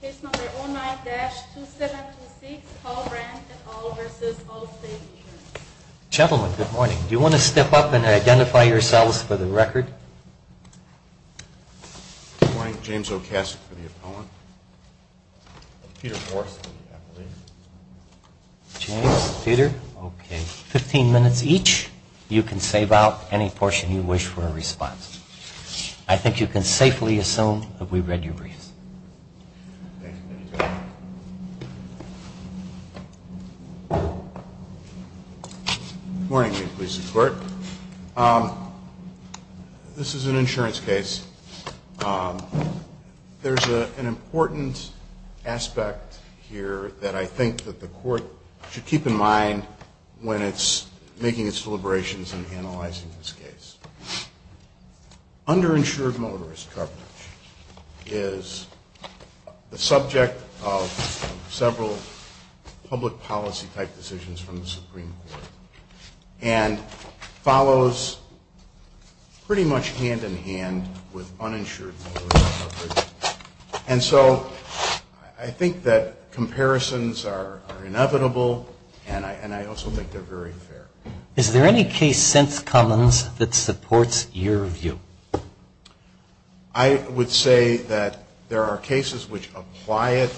Page number 09-2726, Paul Brandt et al. v. Allstate Insurance. Gentlemen, good morning. Do you want to step up and identify yourselves for the record? Good morning. James Okasik for the opponent. Peter Forst, I believe. James, Peter, okay. Fifteen minutes each. You can save out any portion you wish for a response. I think you can safely assume that we've read your briefs. Thank you, Mr. Chairman. Good morning, ladies and gentlemen. This is an insurance case. There's an important aspect here that I think that the court should keep in mind when it's making its deliberations and analyzing this case. Underinsured motorist coverage is the subject of several public policy-type decisions from the Supreme Court and follows pretty much hand-in-hand with uninsured motorist coverage. And so I think that comparisons are inevitable, and I also think they're very fair. Is there any case since Cummins that supports your view? I would say that there are cases which apply it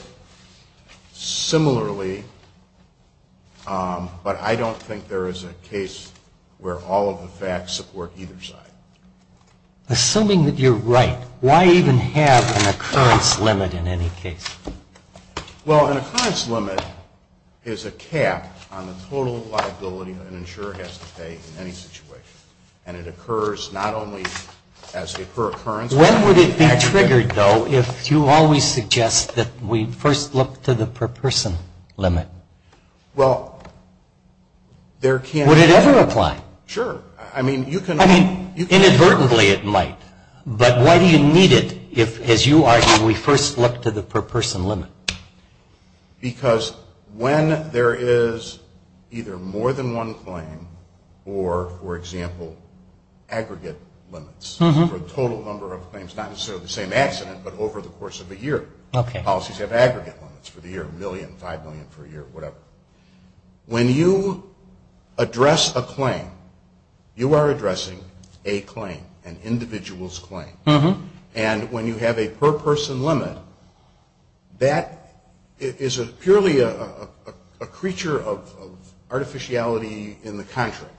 similarly, but I don't think there is a case where all of the facts support either side. Assuming that you're right, why even have an occurrence limit in any case? Well, an occurrence limit is a cap on the total liability an insurer has to pay in any situation. And it occurs not only as a per-occurrence limit. When would it be triggered, though, if you always suggest that we first look to the per-person limit? Well, there can't be. Would it ever apply? Sure. I mean, you can. I mean, inadvertently it might. But why do you need it if, as you argue, we first look to the per-person limit? Because when there is either more than one claim or, for example, aggregate limits for the total number of claims, not necessarily the same accident, but over the course of a year. Okay. Policies have aggregate limits for the year, a million, five million for a year, whatever. When you address a claim, you are addressing a claim, an individual's claim. Uh-huh. And when you have a per-person limit, that is purely a creature of artificiality in the contract.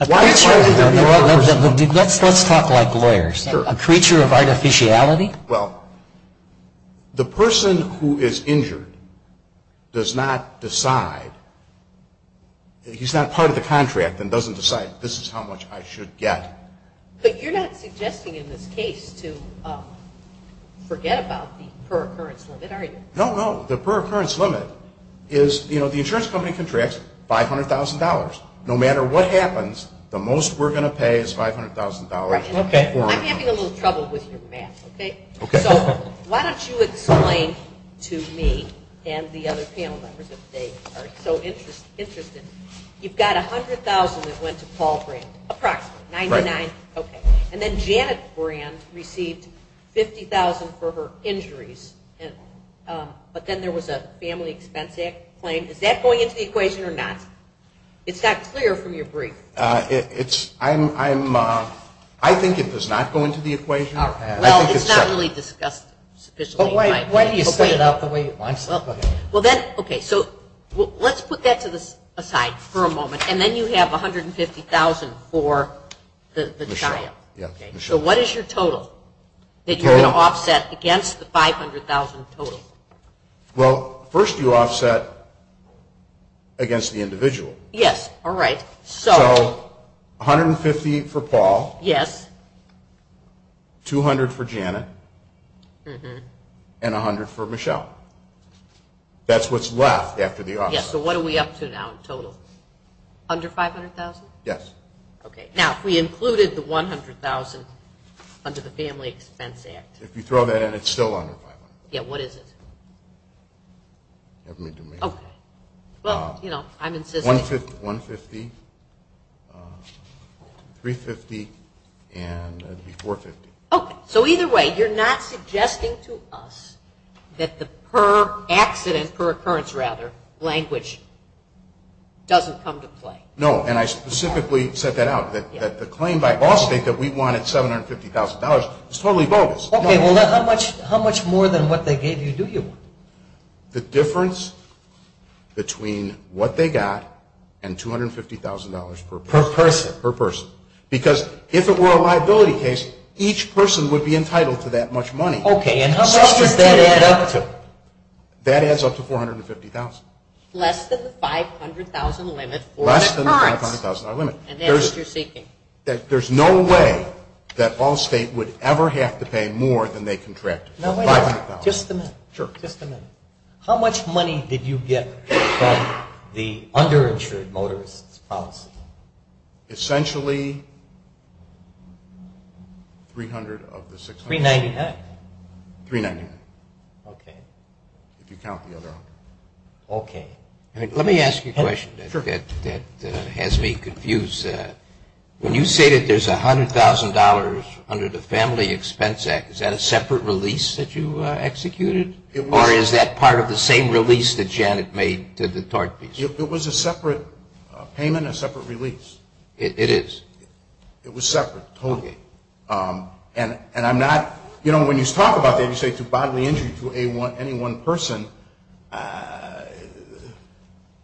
Let's talk like lawyers. Sure. A creature of artificiality? Well, the person who is injured does not decide. He's not part of the contract and doesn't decide, this is how much I should get. But you're not suggesting in this case to forget about the per-occurrence limit, are you? No, no. The per-occurrence limit is, you know, the insurance company contracts $500,000. No matter what happens, the most we're going to pay is $500,000. Okay. I'm having a little trouble with your math, okay? So why don't you explain to me and the other panel members if they are so interested. You've got $100,000 that went to Paul Brand, approximately, $99,000, okay. And then Janet Brand received $50,000 for her injuries. But then there was a Family Expense Act claim. Is that going into the equation or not? It's not clear from your brief. It's, I'm, I think it does not go into the equation. Well, it's not really discussed sufficiently. Why don't you split it up the way you want? Well, then, okay, so let's put that to the side for a moment. And then you have $150,000 for the child. So what is your total that you're going to offset against the $500,000 total? Yes, all right. So $150,000 for Paul. Yes. $200,000 for Janet. And $100,000 for Michelle. That's what's left after the offset. Yes, so what are we up to now in total? Under $500,000? Yes. Okay. Now, if we included the $100,000 under the Family Expense Act. If you throw that in, it's still under $500,000. Yeah, what is it? Okay. Well, you know, I'm insisting. $150,000, $350,000, and it would be $450,000. Okay, so either way, you're not suggesting to us that the per-accident, per-occurrence, rather, language doesn't come to play. No, and I specifically set that out, that the claim by Ball State that we wanted $750,000 is totally bogus. Okay, well, then how much more than what they gave you do you want? The difference between what they got and $250,000 per person. Per person. Per person. Because if it were a liability case, each person would be entitled to that much money. Okay, and how much does that add up to? That adds up to $450,000. Less than the $500,000 limit for occurrence. Less than the $500,000 limit. And that's what you're seeking. There's no way that Ball State would ever have to pay more than they contracted. No way. Just a minute. Sure. Just a minute. How much money did you get from the underinsured motorist's policy? Essentially, $300,000 of the $600,000. $399,000? $399,000. Okay. If you count the other out. Okay. Let me ask you a question that has me confused. When you say that there's $100,000 under the Family Expense Act, is that a separate release that you executed? Or is that part of the same release that Janet made to the tort piece? It was a separate payment, a separate release. It is. It was separate. Okay. And I'm not, you know, when you talk about that, you say to bodily injury to any one person.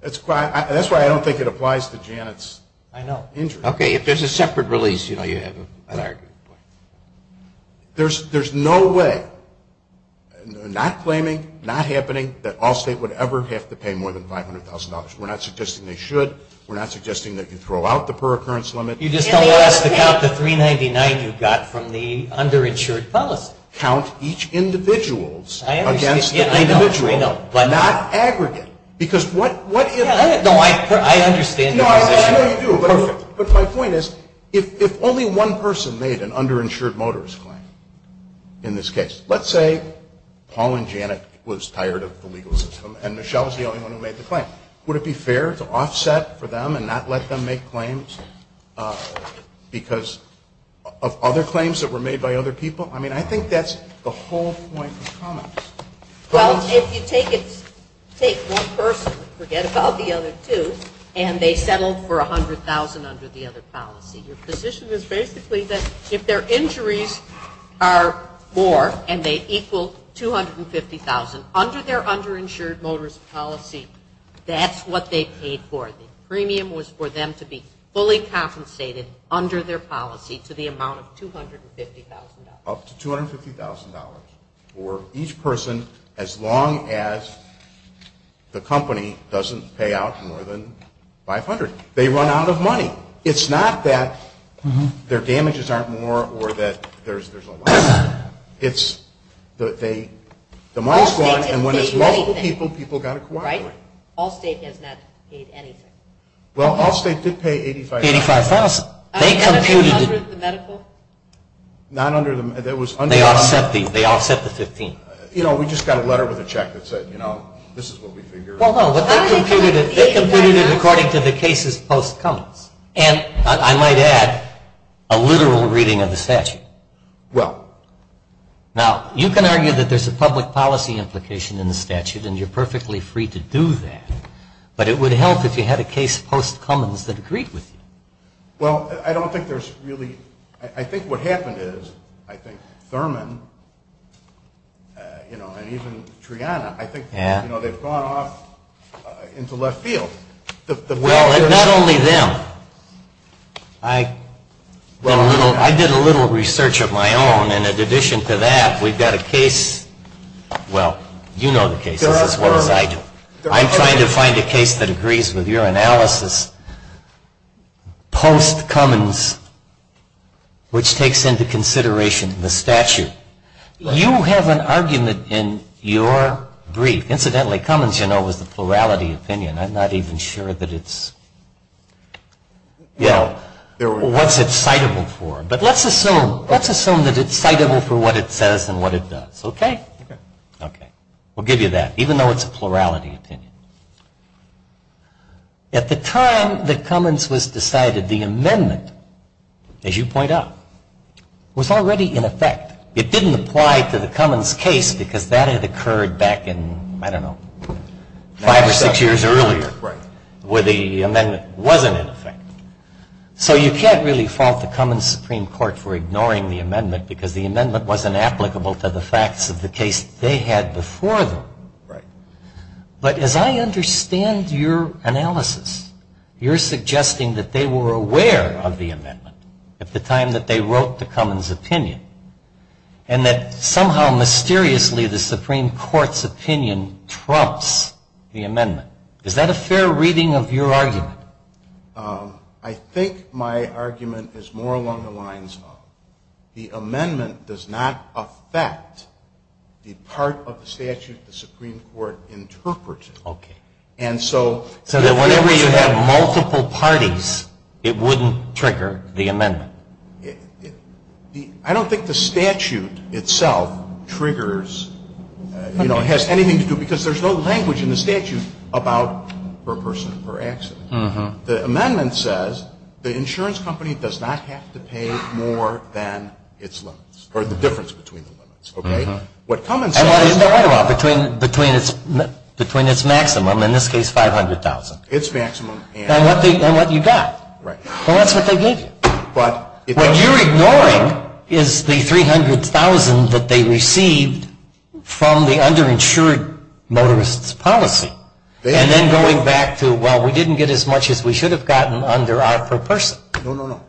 That's why I don't think it applies to Janet's. I know. Okay. If there's a separate release, you know, you have an argument. There's no way, not claiming, not happening, that Allstate would ever have to pay more than $500,000. We're not suggesting they should. We're not suggesting that you throw out the per-occurrence limit. You just told us to count the $399,000 you got from the underinsured policy. Count each individual's against the individual's. Not aggregate. Because what if... No, I understand the position. No, I know you do. Perfect. But my point is, if only one person made an underinsured motorist claim in this case, let's say Paul and Janet was tired of the legal system and Michelle was the only one who made the claim. Would it be fair to offset for them and not let them make claims because of other claims that were made by other people? I mean, I think that's the whole point of comments. Well, if you take one person and forget about the other two and they settled for $100,000 under the other policy, your position is basically that if their injuries are more and they equal $250,000, under their underinsured motorist policy, that's what they paid for. The premium was for them to be fully compensated under their policy to the amount of $250,000. Up to $250,000 for each person as long as the company doesn't pay out more than $500,000. They run out of money. It's not that their damages aren't more or that there's a loss. It's that the money's gone and when it's multiple people, people got to cooperate. Allstate has not paid anything. Well, Allstate did pay $85,000. $85,000. Not under the medical? Not under the medical. They offset the $15,000. You know, we just got a letter with a check that said, you know, this is what we figured. Well, no, but they computed it according to the cases post-Cummins. And I might add, a literal reading of the statute. Well. Now, you can argue that there's a public policy implication in the statute and you're perfectly free to do that, but it would help if you had a case post-Cummins that agreed with you. Well, I don't think there's really, I think what happened is, I think Thurman, you know, and even Triana, I think, you know, they've gone off into left field. Well, and not only them. I did a little research of my own and in addition to that, we've got a case, well, you know the cases as well as I do. I'm trying to find a case that agrees with your analysis post-Cummins, which takes into consideration the statute. You have an argument in your brief. Incidentally, Cummins, you know, was the plurality opinion. I'm not even sure that it's, you know, what's it citable for. But let's assume, let's assume that it's citable for what it says and what it does, okay? Okay. We'll give you that, even though it's a plurality opinion. At the time that Cummins was decided, the amendment, as you point out, was already in effect. It didn't apply to the Cummins case because that had occurred back in, I don't know, five or six years earlier, where the amendment wasn't in effect. So you can't really fault the Cummins Supreme Court for ignoring the amendment because the amendment wasn't applicable to the facts of the case they had before them. Right. But as I understand your analysis, you're suggesting that they were aware of the amendment at the time that they wrote the Cummins opinion, and that somehow, mysteriously, the Supreme Court's opinion trumps the amendment. Is that a fair reading of your argument? I think my argument is more along the lines of the amendment does not affect the part of the statute the Supreme Court interpreted. Okay. And so... So that whenever you have multiple parties, it wouldn't trigger the amendment? I don't think the statute itself triggers, you know, has anything to do, because there's no language in the statute about per person per accident. The amendment says the insurance company does not have to pay more than its limits, or the difference between the limits, okay? What Cummins says... And what is that all about, between its maximum, in this case, $500,000? Its maximum and... And what you got. Right. Well, that's what they gave you. But... What you're ignoring is the $300,000 that they received from the underinsured motorists' policy. And then going back to, well, we didn't get as much as we should have gotten under our per person. No, no, no.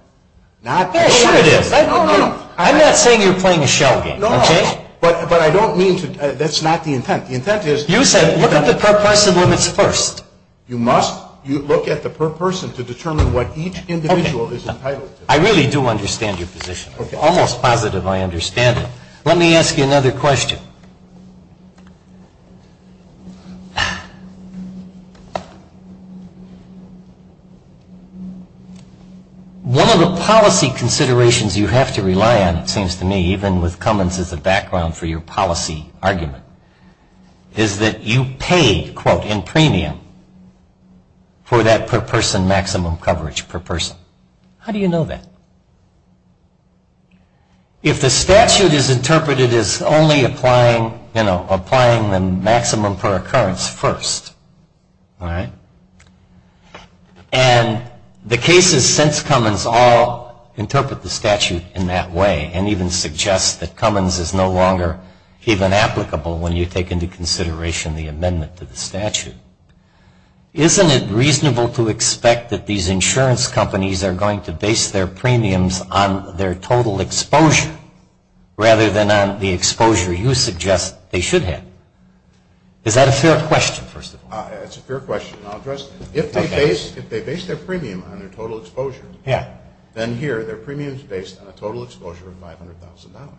Not... Yes, sure it is. I'm not saying you're playing a shell game, okay? But I don't mean to... That's not the intent. The intent is... You said look at the per person limits first. You must look at the per person to determine what each individual is entitled to. I really do understand your position. Almost positive I understand it. Let me ask you another question. One of the policy considerations you have to rely on, it seems to me, even with Cummins as a background for your policy argument, is that you pay, quote, in premium for that per person maximum coverage per person. How do you know that? If the statute is interpreted as only applying, you know, applying the maximum per occurrence first, all right, and the cases since Cummins all interpret the statute in that way and even suggest that Cummins is no longer even applicable when you take into consideration the amendment to the statute, isn't it reasonable to expect that these insurance companies are going to base their premiums on their total exposure rather than on the exposure you suggest they should have? Is that a fair question, first of all? It's a fair question. I'll address it. If they base their premium on their total exposure, then here their premium is based on a total exposure of $500,000.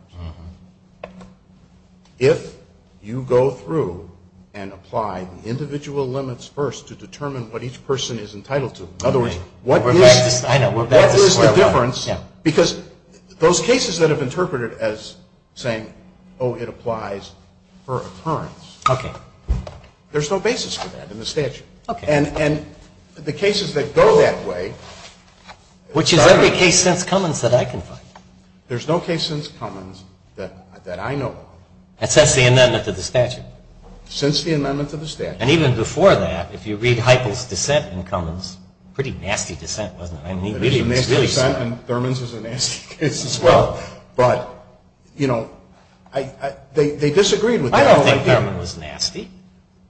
If you go through and apply the individual limits first to determine what each person is entitled to, in other words, what is the difference, because those cases that have interpreted as saying, oh, it applies per occurrence, there's no basis for that in the statute. And the cases that go that way. Which is every case since Cummins that I can find. There's no case since Cummins that I know of. And since the amendment to the statute. Since the amendment to the statute. And even before that, if you read Heiple's dissent in Cummins, pretty nasty dissent, wasn't it? It is a nasty dissent and Thurman's is a nasty case as well. But, you know, they disagreed with that. I don't think Thurman was nasty.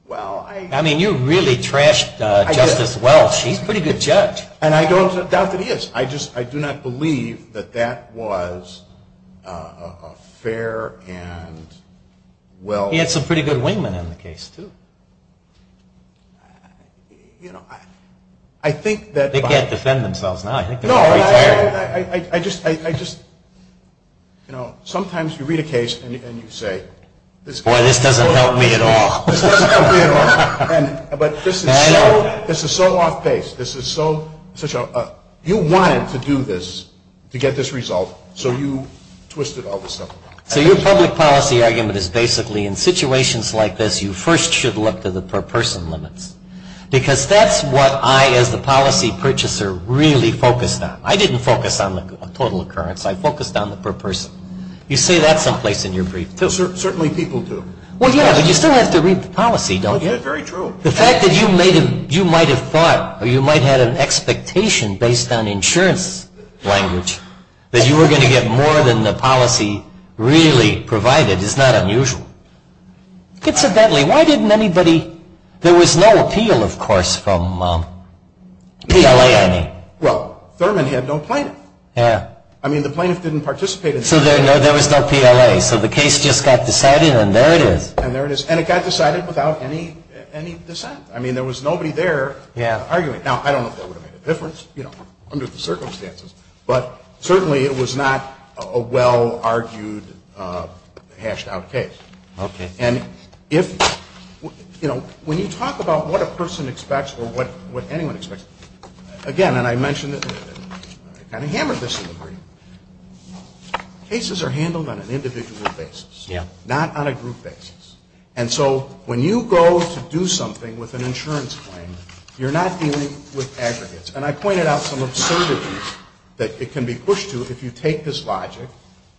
Well, I. I mean, you really trashed Justice Welch. He's a pretty good judge. And I don't doubt that he is. I just, I do not believe that that was a fair and well. He had some pretty good wingmen in the case too. You know, I think that. They can't defend themselves now. No, I just, you know, sometimes you read a case and you say. Boy, this doesn't help me at all. This doesn't help me at all. But this is so off base. This is so. You wanted to do this to get this resolved. So you twisted all this up. So your public policy argument is basically in situations like this you first should look to the per person limits. Because that's what I as the policy purchaser really focused on. I didn't focus on the total occurrence. I focused on the per person. You say that someplace in your brief too. Certainly people do. Well, yeah, but you still have to read the policy, don't you? That's very true. The fact that you might have thought or you might have had an expectation based on insurance language that you were going to get more than the policy really provided is not unusual. Incidentally, why didn't anybody, there was no appeal, of course, from PLA, I mean. Well, Thurman had no plaintiff. Yeah. I mean, the plaintiff didn't participate. So there was no PLA. So the case just got decided and there it is. And it got decided without any dissent. I mean, there was nobody there arguing. Now, I don't know if that would have made a difference, you know, under the circumstances. But certainly it was not a well-argued, hashed-out case. Okay. And if, you know, when you talk about what a person expects or what anyone expects, again, and I mentioned it, I kind of hammered this in the brief, cases are handled on an individual basis. Yeah. Not on a group basis. And so when you go to do something with an insurance claim, you're not dealing with aggregates. And I pointed out some absurdities that it can be pushed to if you take this logic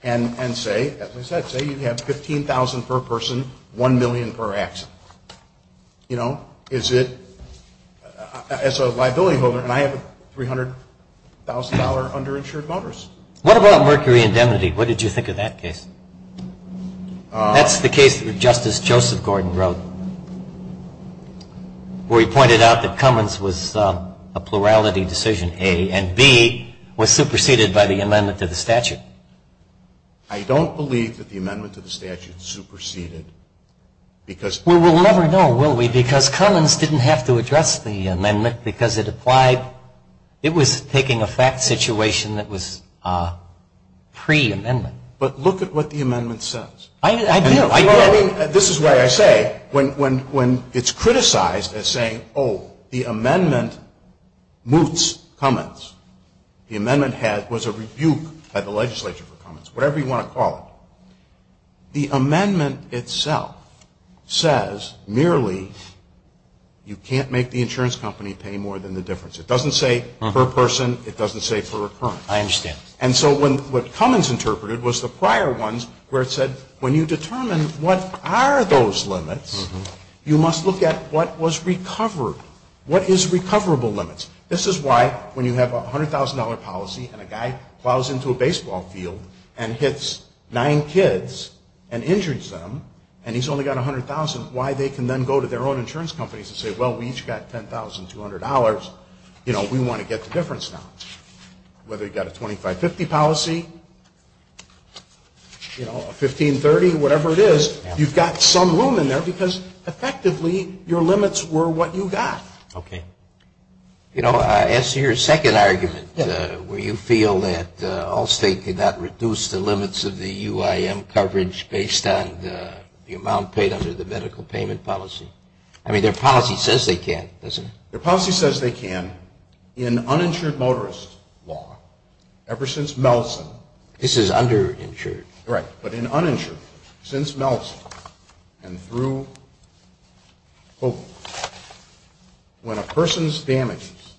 and say, as I said, say you have $15,000 per person, $1 million per accident. You know, is it, as a liability holder, and I have a $300,000 underinsured motorist. What about mercury indemnity? What did you think of that case? That's the case that Justice Joseph Gordon wrote, where he pointed out that Cummins was a plurality decision, A, and B, was superseded by the amendment to the statute. I don't believe that the amendment to the statute superseded because. Well, we'll never know, will we? Because Cummins didn't have to address the amendment because it applied, it was taking a fact situation that was pre-amendment. But look at what the amendment says. I do. This is why I say, when it's criticized as saying, oh, the amendment moots Cummins, the amendment was a rebuke by the legislature for Cummins, whatever you want to call it. The amendment itself says merely you can't make the insurance company pay more than the difference. It doesn't say per person. It doesn't say per occurrence. I understand. And so what Cummins interpreted was the prior ones where it said, when you determine what are those limits, you must look at what was recovered, what is recoverable limits. This is why when you have a $100,000 policy and a guy plows into a baseball field and hits nine kids and injures them, and he's only got $100,000, why they can then go to their own insurance companies and say, well, we each got $10,200. You know, we want to get the difference now. Whether you've got a 25-50 policy, you know, a 15-30, whatever it is, you've got some room in there because effectively your limits were what you got. Okay. You know, I asked your second argument where you feel that Allstate did not reduce the limits of the UIM coverage based on the amount paid under the medical payment policy. I mean, their policy says they can't, doesn't it? Their policy says they can in uninsured motorist law ever since Melson. This is underinsured. Right. But in uninsured, since Melson, and through Hogan, when a person's damages,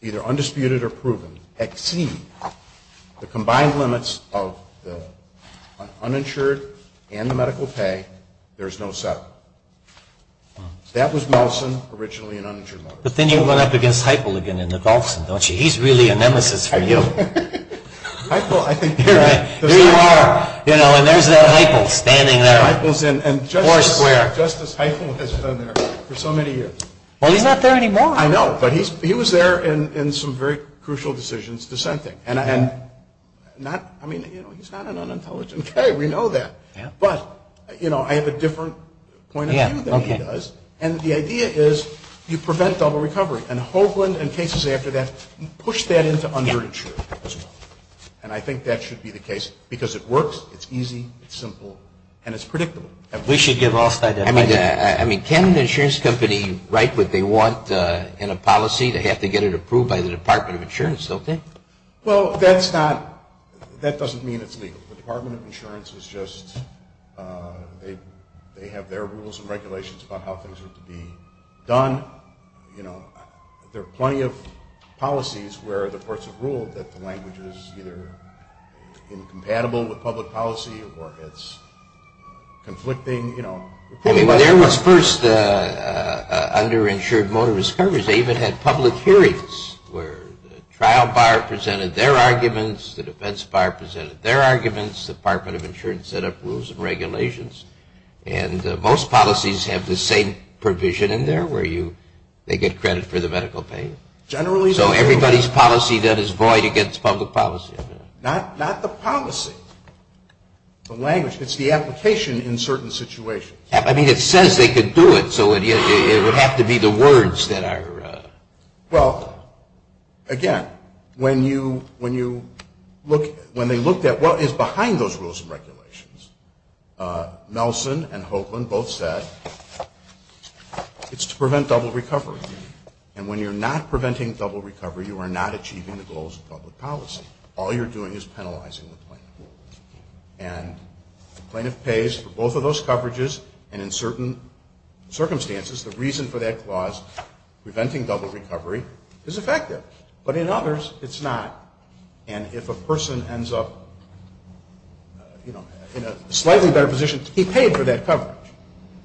either undisputed or proven, exceed the combined limits of the uninsured and the medical pay, there's no settlement. That was Melson, originally an uninsured motorist. But then you run up against Heifel again in the golfs, don't you? He's really a nemesis for you. Heifel, I think you're right. There you are. You know, and there's that Heifel standing there. Heifel's in, and Justice Heifel has been there for so many years. Well, he's not there anymore. I know. But he was there in some very crucial decisions dissenting. And not, I mean, you know, he's not an unintelligent guy. We know that. But, you know, I have a different point of view than he does. And the idea is you prevent double recovery. And Hoagland and cases after that push that into underinsured as well. And I think that should be the case because it works, it's easy, it's simple, and it's predictable. We should give All-Star to Heifel. I mean, can an insurance company write what they want in a policy? They have to get it approved by the Department of Insurance, don't they? Well, that's not, that doesn't mean it's legal. The Department of Insurance is just, they have their rules and regulations about how things are to be done. You know, there are plenty of policies where the courts have ruled that the language is either incompatible with public policy or it's conflicting, you know. Well, there was first underinsured motorist coverage. They even had public hearings where the trial buyer presented their arguments, the defense buyer presented their arguments. The Department of Insurance set up rules and regulations. And most policies have the same provision in there where you, they get credit for the medical pain. So everybody's policy then is void against public policy. Not the policy, the language. It's the application in certain situations. I mean, it says they could do it, so it would have to be the words that are. Well, again, when you look, when they looked at what is behind those rules and regulations, Nelson and Hoakland both said it's to prevent double recovery. And when you're not preventing double recovery, you are not achieving the goals of public policy. All you're doing is penalizing the plaintiff. And the plaintiff pays for both of those coverages. And in certain circumstances, the reason for that clause, preventing double recovery, is effective. But in others, it's not. And if a person ends up, you know, in a slightly better position, he paid for that coverage.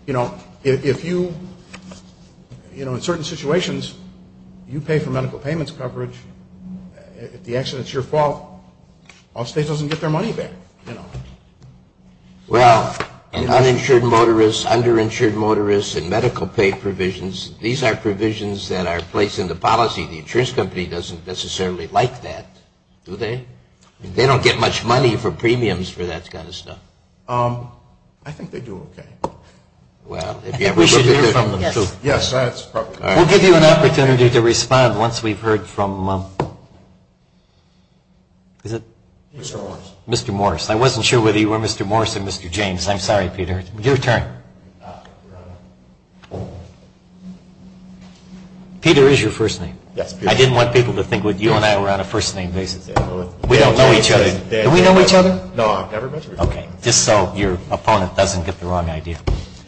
You know, if you, you know, in certain situations, you pay for medical payments coverage. If the accident's your fault, all states doesn't get their money back, you know. Well, and uninsured motorists, underinsured motorists, and medical pay provisions, these are provisions that are placed in the policy. The insurance company doesn't necessarily like that, do they? They don't get much money for premiums for that kind of stuff. I think they do okay. Well, if you ever look at it. We should hear from them, too. Yes, that's probably. We'll give you an opportunity to respond once we've heard from, is it? Mr. Morris. Mr. Morris. I wasn't sure whether you were Mr. Morris or Mr. James. I'm sorry, Peter. Your turn. Peter is your first name. Yes, Peter. I didn't want people to think that you and I were on a first name basis. We don't know each other. Do we know each other? No, I've never met you before. Okay. Just so your opponent doesn't get the wrong idea.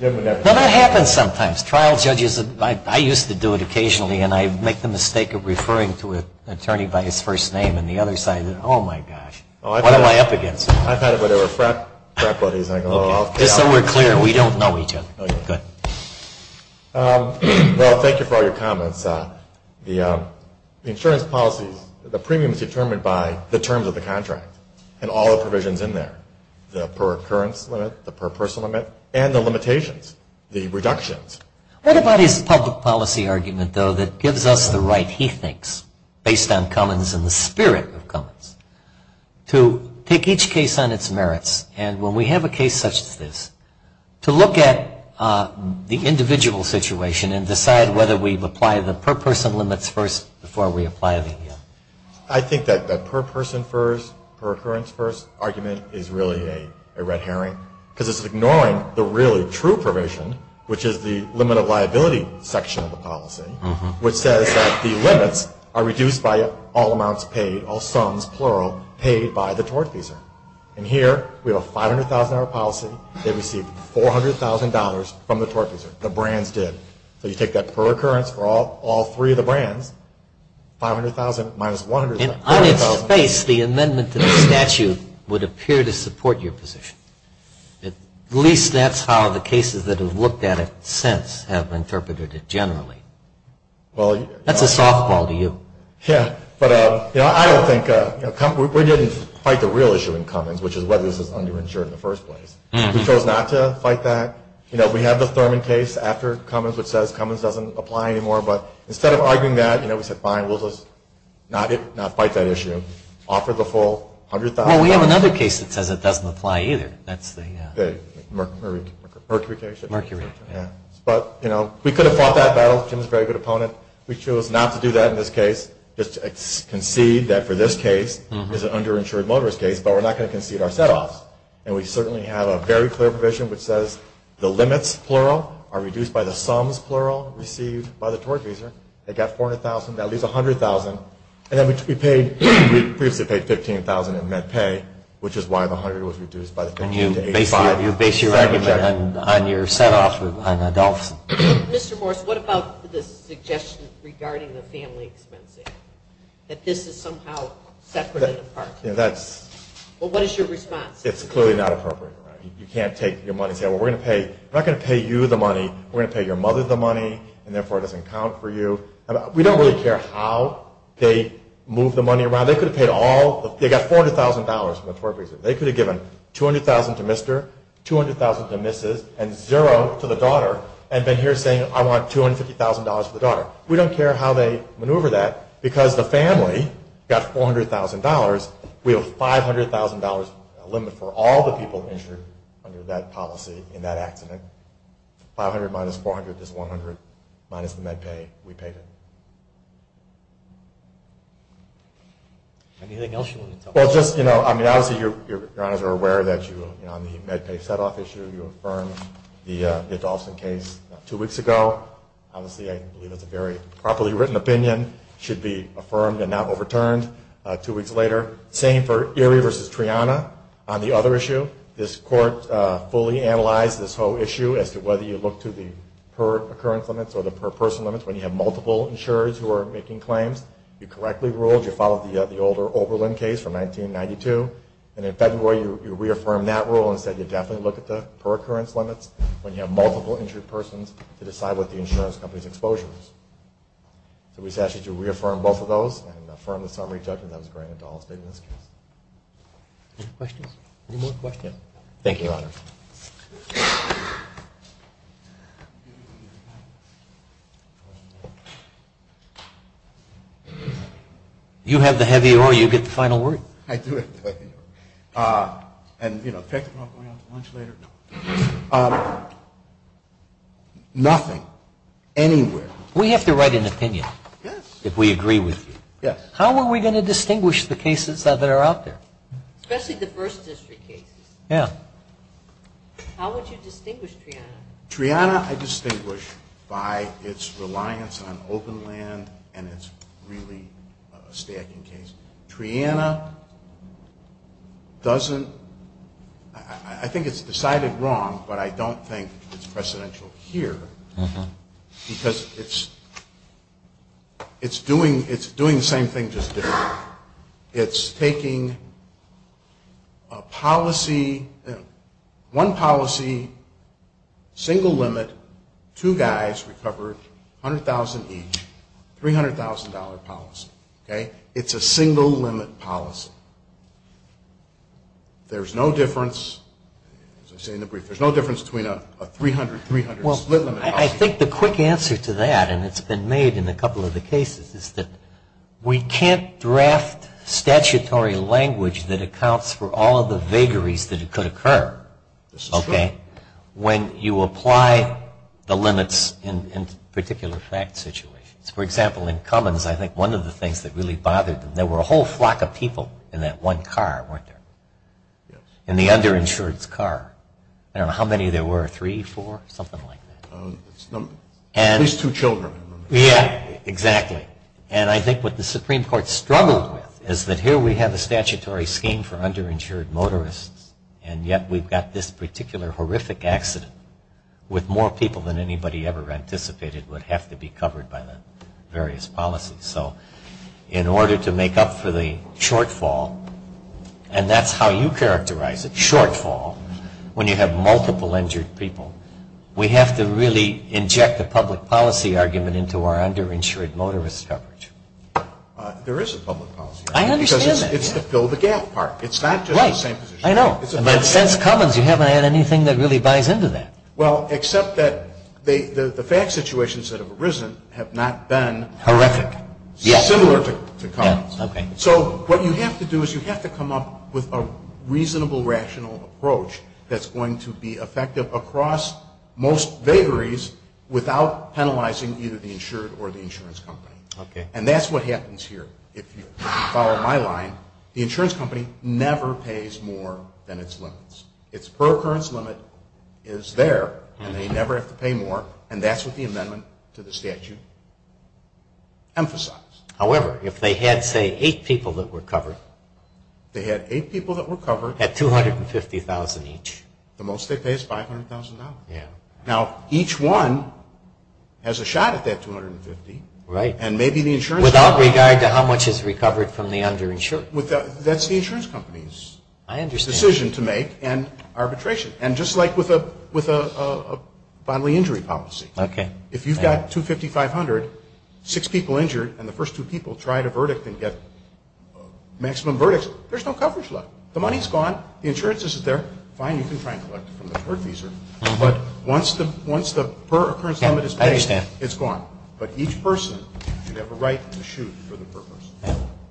No, that happens sometimes. Trial judges, I used to do it occasionally. And I'd make the mistake of referring to an attorney by his first name. And the other side, oh, my gosh. What am I up against? I've had it with our frat buddies. Just so we're clear, we don't know each other. Go ahead. Well, thank you for all your comments. The insurance policy, the premium is determined by the terms of the contract and all the provisions in there, the per occurrence limit, the per person limit, and the limitations, the reductions. based on Cummins and the spirit of Cummins, to take each case on its merits. And when we have a case such as this, to look at the individual situation and decide whether we apply the per person limits first before we apply the. I think that per person first, per occurrence first argument is really a red herring because it's ignoring the really true provision, which is the limit of liability section of the policy, which says that the limits are reduced by all amounts paid, all sums, plural, paid by the tortfeasor. And here we have a $500,000 policy. They received $400,000 from the tortfeasor. The brands did. So you take that per occurrence for all three of the brands, $500,000 minus $100,000. And on its face, the amendment to the statute would appear to support your position. At least that's how the cases that have looked at it since have interpreted it generally. That's a softball to you. Yeah, but I don't think we're getting quite the real issue in Cummins, which is whether this is underinsured in the first place. We chose not to fight that. We have the Thurman case after Cummins, which says Cummins doesn't apply anymore. But instead of arguing that, we said, fine, we'll just not fight that issue, offer the full $100,000. Well, we have another case that says it doesn't apply either. That's the Mercury case. Mercury, yeah. But we could have fought that battle. Cummins is a very good opponent. We chose not to do that in this case, just to concede that for this case it's an underinsured motorist case, but we're not going to concede our setoffs. And we certainly have a very clear provision which says the limits, plural, are reduced by the sums, plural, received by the tortfeasor. They got $400,000. That leaves $100,000. And then we previously paid $15,000 in med pay, which is why the $100,000 was reduced by the $15,000 to $85,000. And you base your argument on your setoffs on adults. Mr. Morse, what about the suggestion regarding the family expenses, that this is somehow separate and apart? Well, what is your response? It's clearly not appropriate. You can't take your money and say, well, we're not going to pay you the money, we're going to pay your mother the money, and therefore it doesn't count for you. We don't really care how they move the money around. They got $400,000 from the tortfeasor. They could have given $200,000 to Mr., $200,000 to Mrs., and $0 to the daughter, and been here saying, I want $250,000 for the daughter. We don't care how they maneuver that, because the family got $400,000. We have a $500,000 limit for all the people insured under that policy in that accident. $500,000 minus $400,000 is $100,000 minus the MedPay. We paid it. Anything else you want to tell us? Well, just, you know, I mean, obviously, Your Honors are aware that you, on the MedPay setoff issue, you affirmed the Dalston case two weeks ago. Obviously, I believe it's a very properly written opinion. It should be affirmed and not overturned two weeks later. Same for Erie v. Triana. On the other issue, this Court fully analyzed this whole issue as to whether you look to the per-occurrence limits or the per-person limits when you have multiple insurers who are making claims. You correctly ruled. You followed the older Oberlin case from 1992, and in February, you reaffirmed that rule and said you'd definitely look at the per-occurrence limits when you have multiple insured persons to decide what the insurance company's exposure is. So we just ask you to reaffirm both of those and affirm the summary judgment that was granted to Dalston in this case. Any questions? Any more questions? Thank you, Your Honors. You have the heavy ore. You get the final word. I do have the heavy ore. And, you know, pick. We're not going out to lunch later? No. Nothing. Anywhere. We have to write an opinion. Yes. If we agree with you. Yes. How are we going to distinguish the cases that are out there? Especially the First District cases. Yeah. How would you distinguish Triana? Triana I distinguish by its reliance on open land and its really stacking case. Triana doesn't – I think it's decided wrong, but I don't think it's precedential here because it's doing the same thing just different. It's taking a policy – one policy, single limit, two guys recovered $100,000 each, $300,000 policy. Okay? It's a single limit policy. There's no difference, as I say in the brief, there's no difference between a 300-300 split limit policy. I think the quick answer to that, and it's been made in a couple of the cases, is that we can't draft statutory language that accounts for all of the vagaries that could occur. This is true. Okay? When you apply the limits in particular fact situations. For example, in Cummins, I think one of the things that really bothered them, there were a whole flock of people in that one car, weren't there? Yes. In the underinsured's car. I don't know how many there were, three, four, something like that. At least two children. Yeah, exactly. And I think what the Supreme Court struggled with is that here we have a statutory scheme for underinsured motorists, and yet we've got this particular horrific accident with more people than anybody ever anticipated would have to be covered by the various policies. So in order to make up for the shortfall, and that's how you characterize it, shortfall, when you have multiple injured people, we have to really inject the public policy argument into our underinsured motorist coverage. There is a public policy argument. I understand that. Because it's to fill the gap part. It's not just the same position. Right. I know. But since Cummins, you haven't had anything that really buys into that. Well, except that the fact situations that have arisen have not been horrific. Yes. Similar to Cummins. Okay. So what you have to do is you have to come up with a reasonable, rational approach that's going to be effective across most vagaries without penalizing either the insured or the insurance company. Okay. And that's what happens here. If you follow my line, the insurance company never pays more than its limits. Its per occurrence limit is there, and they never have to pay more, and that's what the amendment to the statute emphasizes. However, if they had, say, eight people that were covered. They had eight people that were covered. At $250,000 each. The most they pay is $500,000. Yeah. Now, each one has a shot at that $250,000. Right. And maybe the insurance company. Without regard to how much is recovered from the underinsured. That's the insurance company's decision to make and arbitration. And just like with a bodily injury policy. Okay. If you've got $250,000, $500,000, six people injured, and the first two people tried a verdict and get maximum verdicts, there's no coverage left. The money's gone. The insurance isn't there. Fine, you can try and collect it from the court fees. But once the per occurrence limit is paid. I understand. It's gone. But each person should have a right to shoot for the purpose.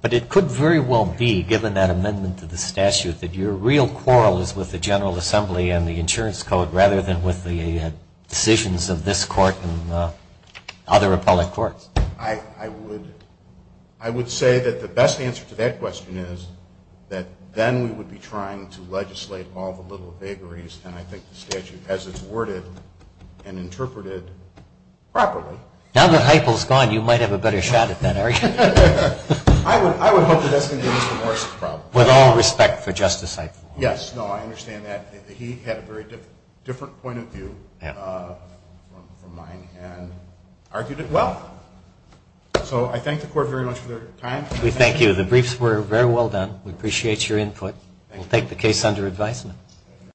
But it could very well be, given that amendment to the statute, that your real quarrel is with the General Assembly and the insurance code rather than with the decisions of this court and other appellate courts. I would say that the best answer to that question is that then we would be trying to legislate all the little vagaries, and I think the statute has it worded and interpreted properly. Now that Heifel's gone, you might have a better shot at that argument. I would hope that that's going to be Mr. Morrison's problem. With all respect for Justice Heifel. Yes. No, I understand that. He had a very different point of view from mine and argued it well. So I thank the court very much for their time. We thank you. The briefs were very well done. We appreciate your input. We'll take the case under advisement.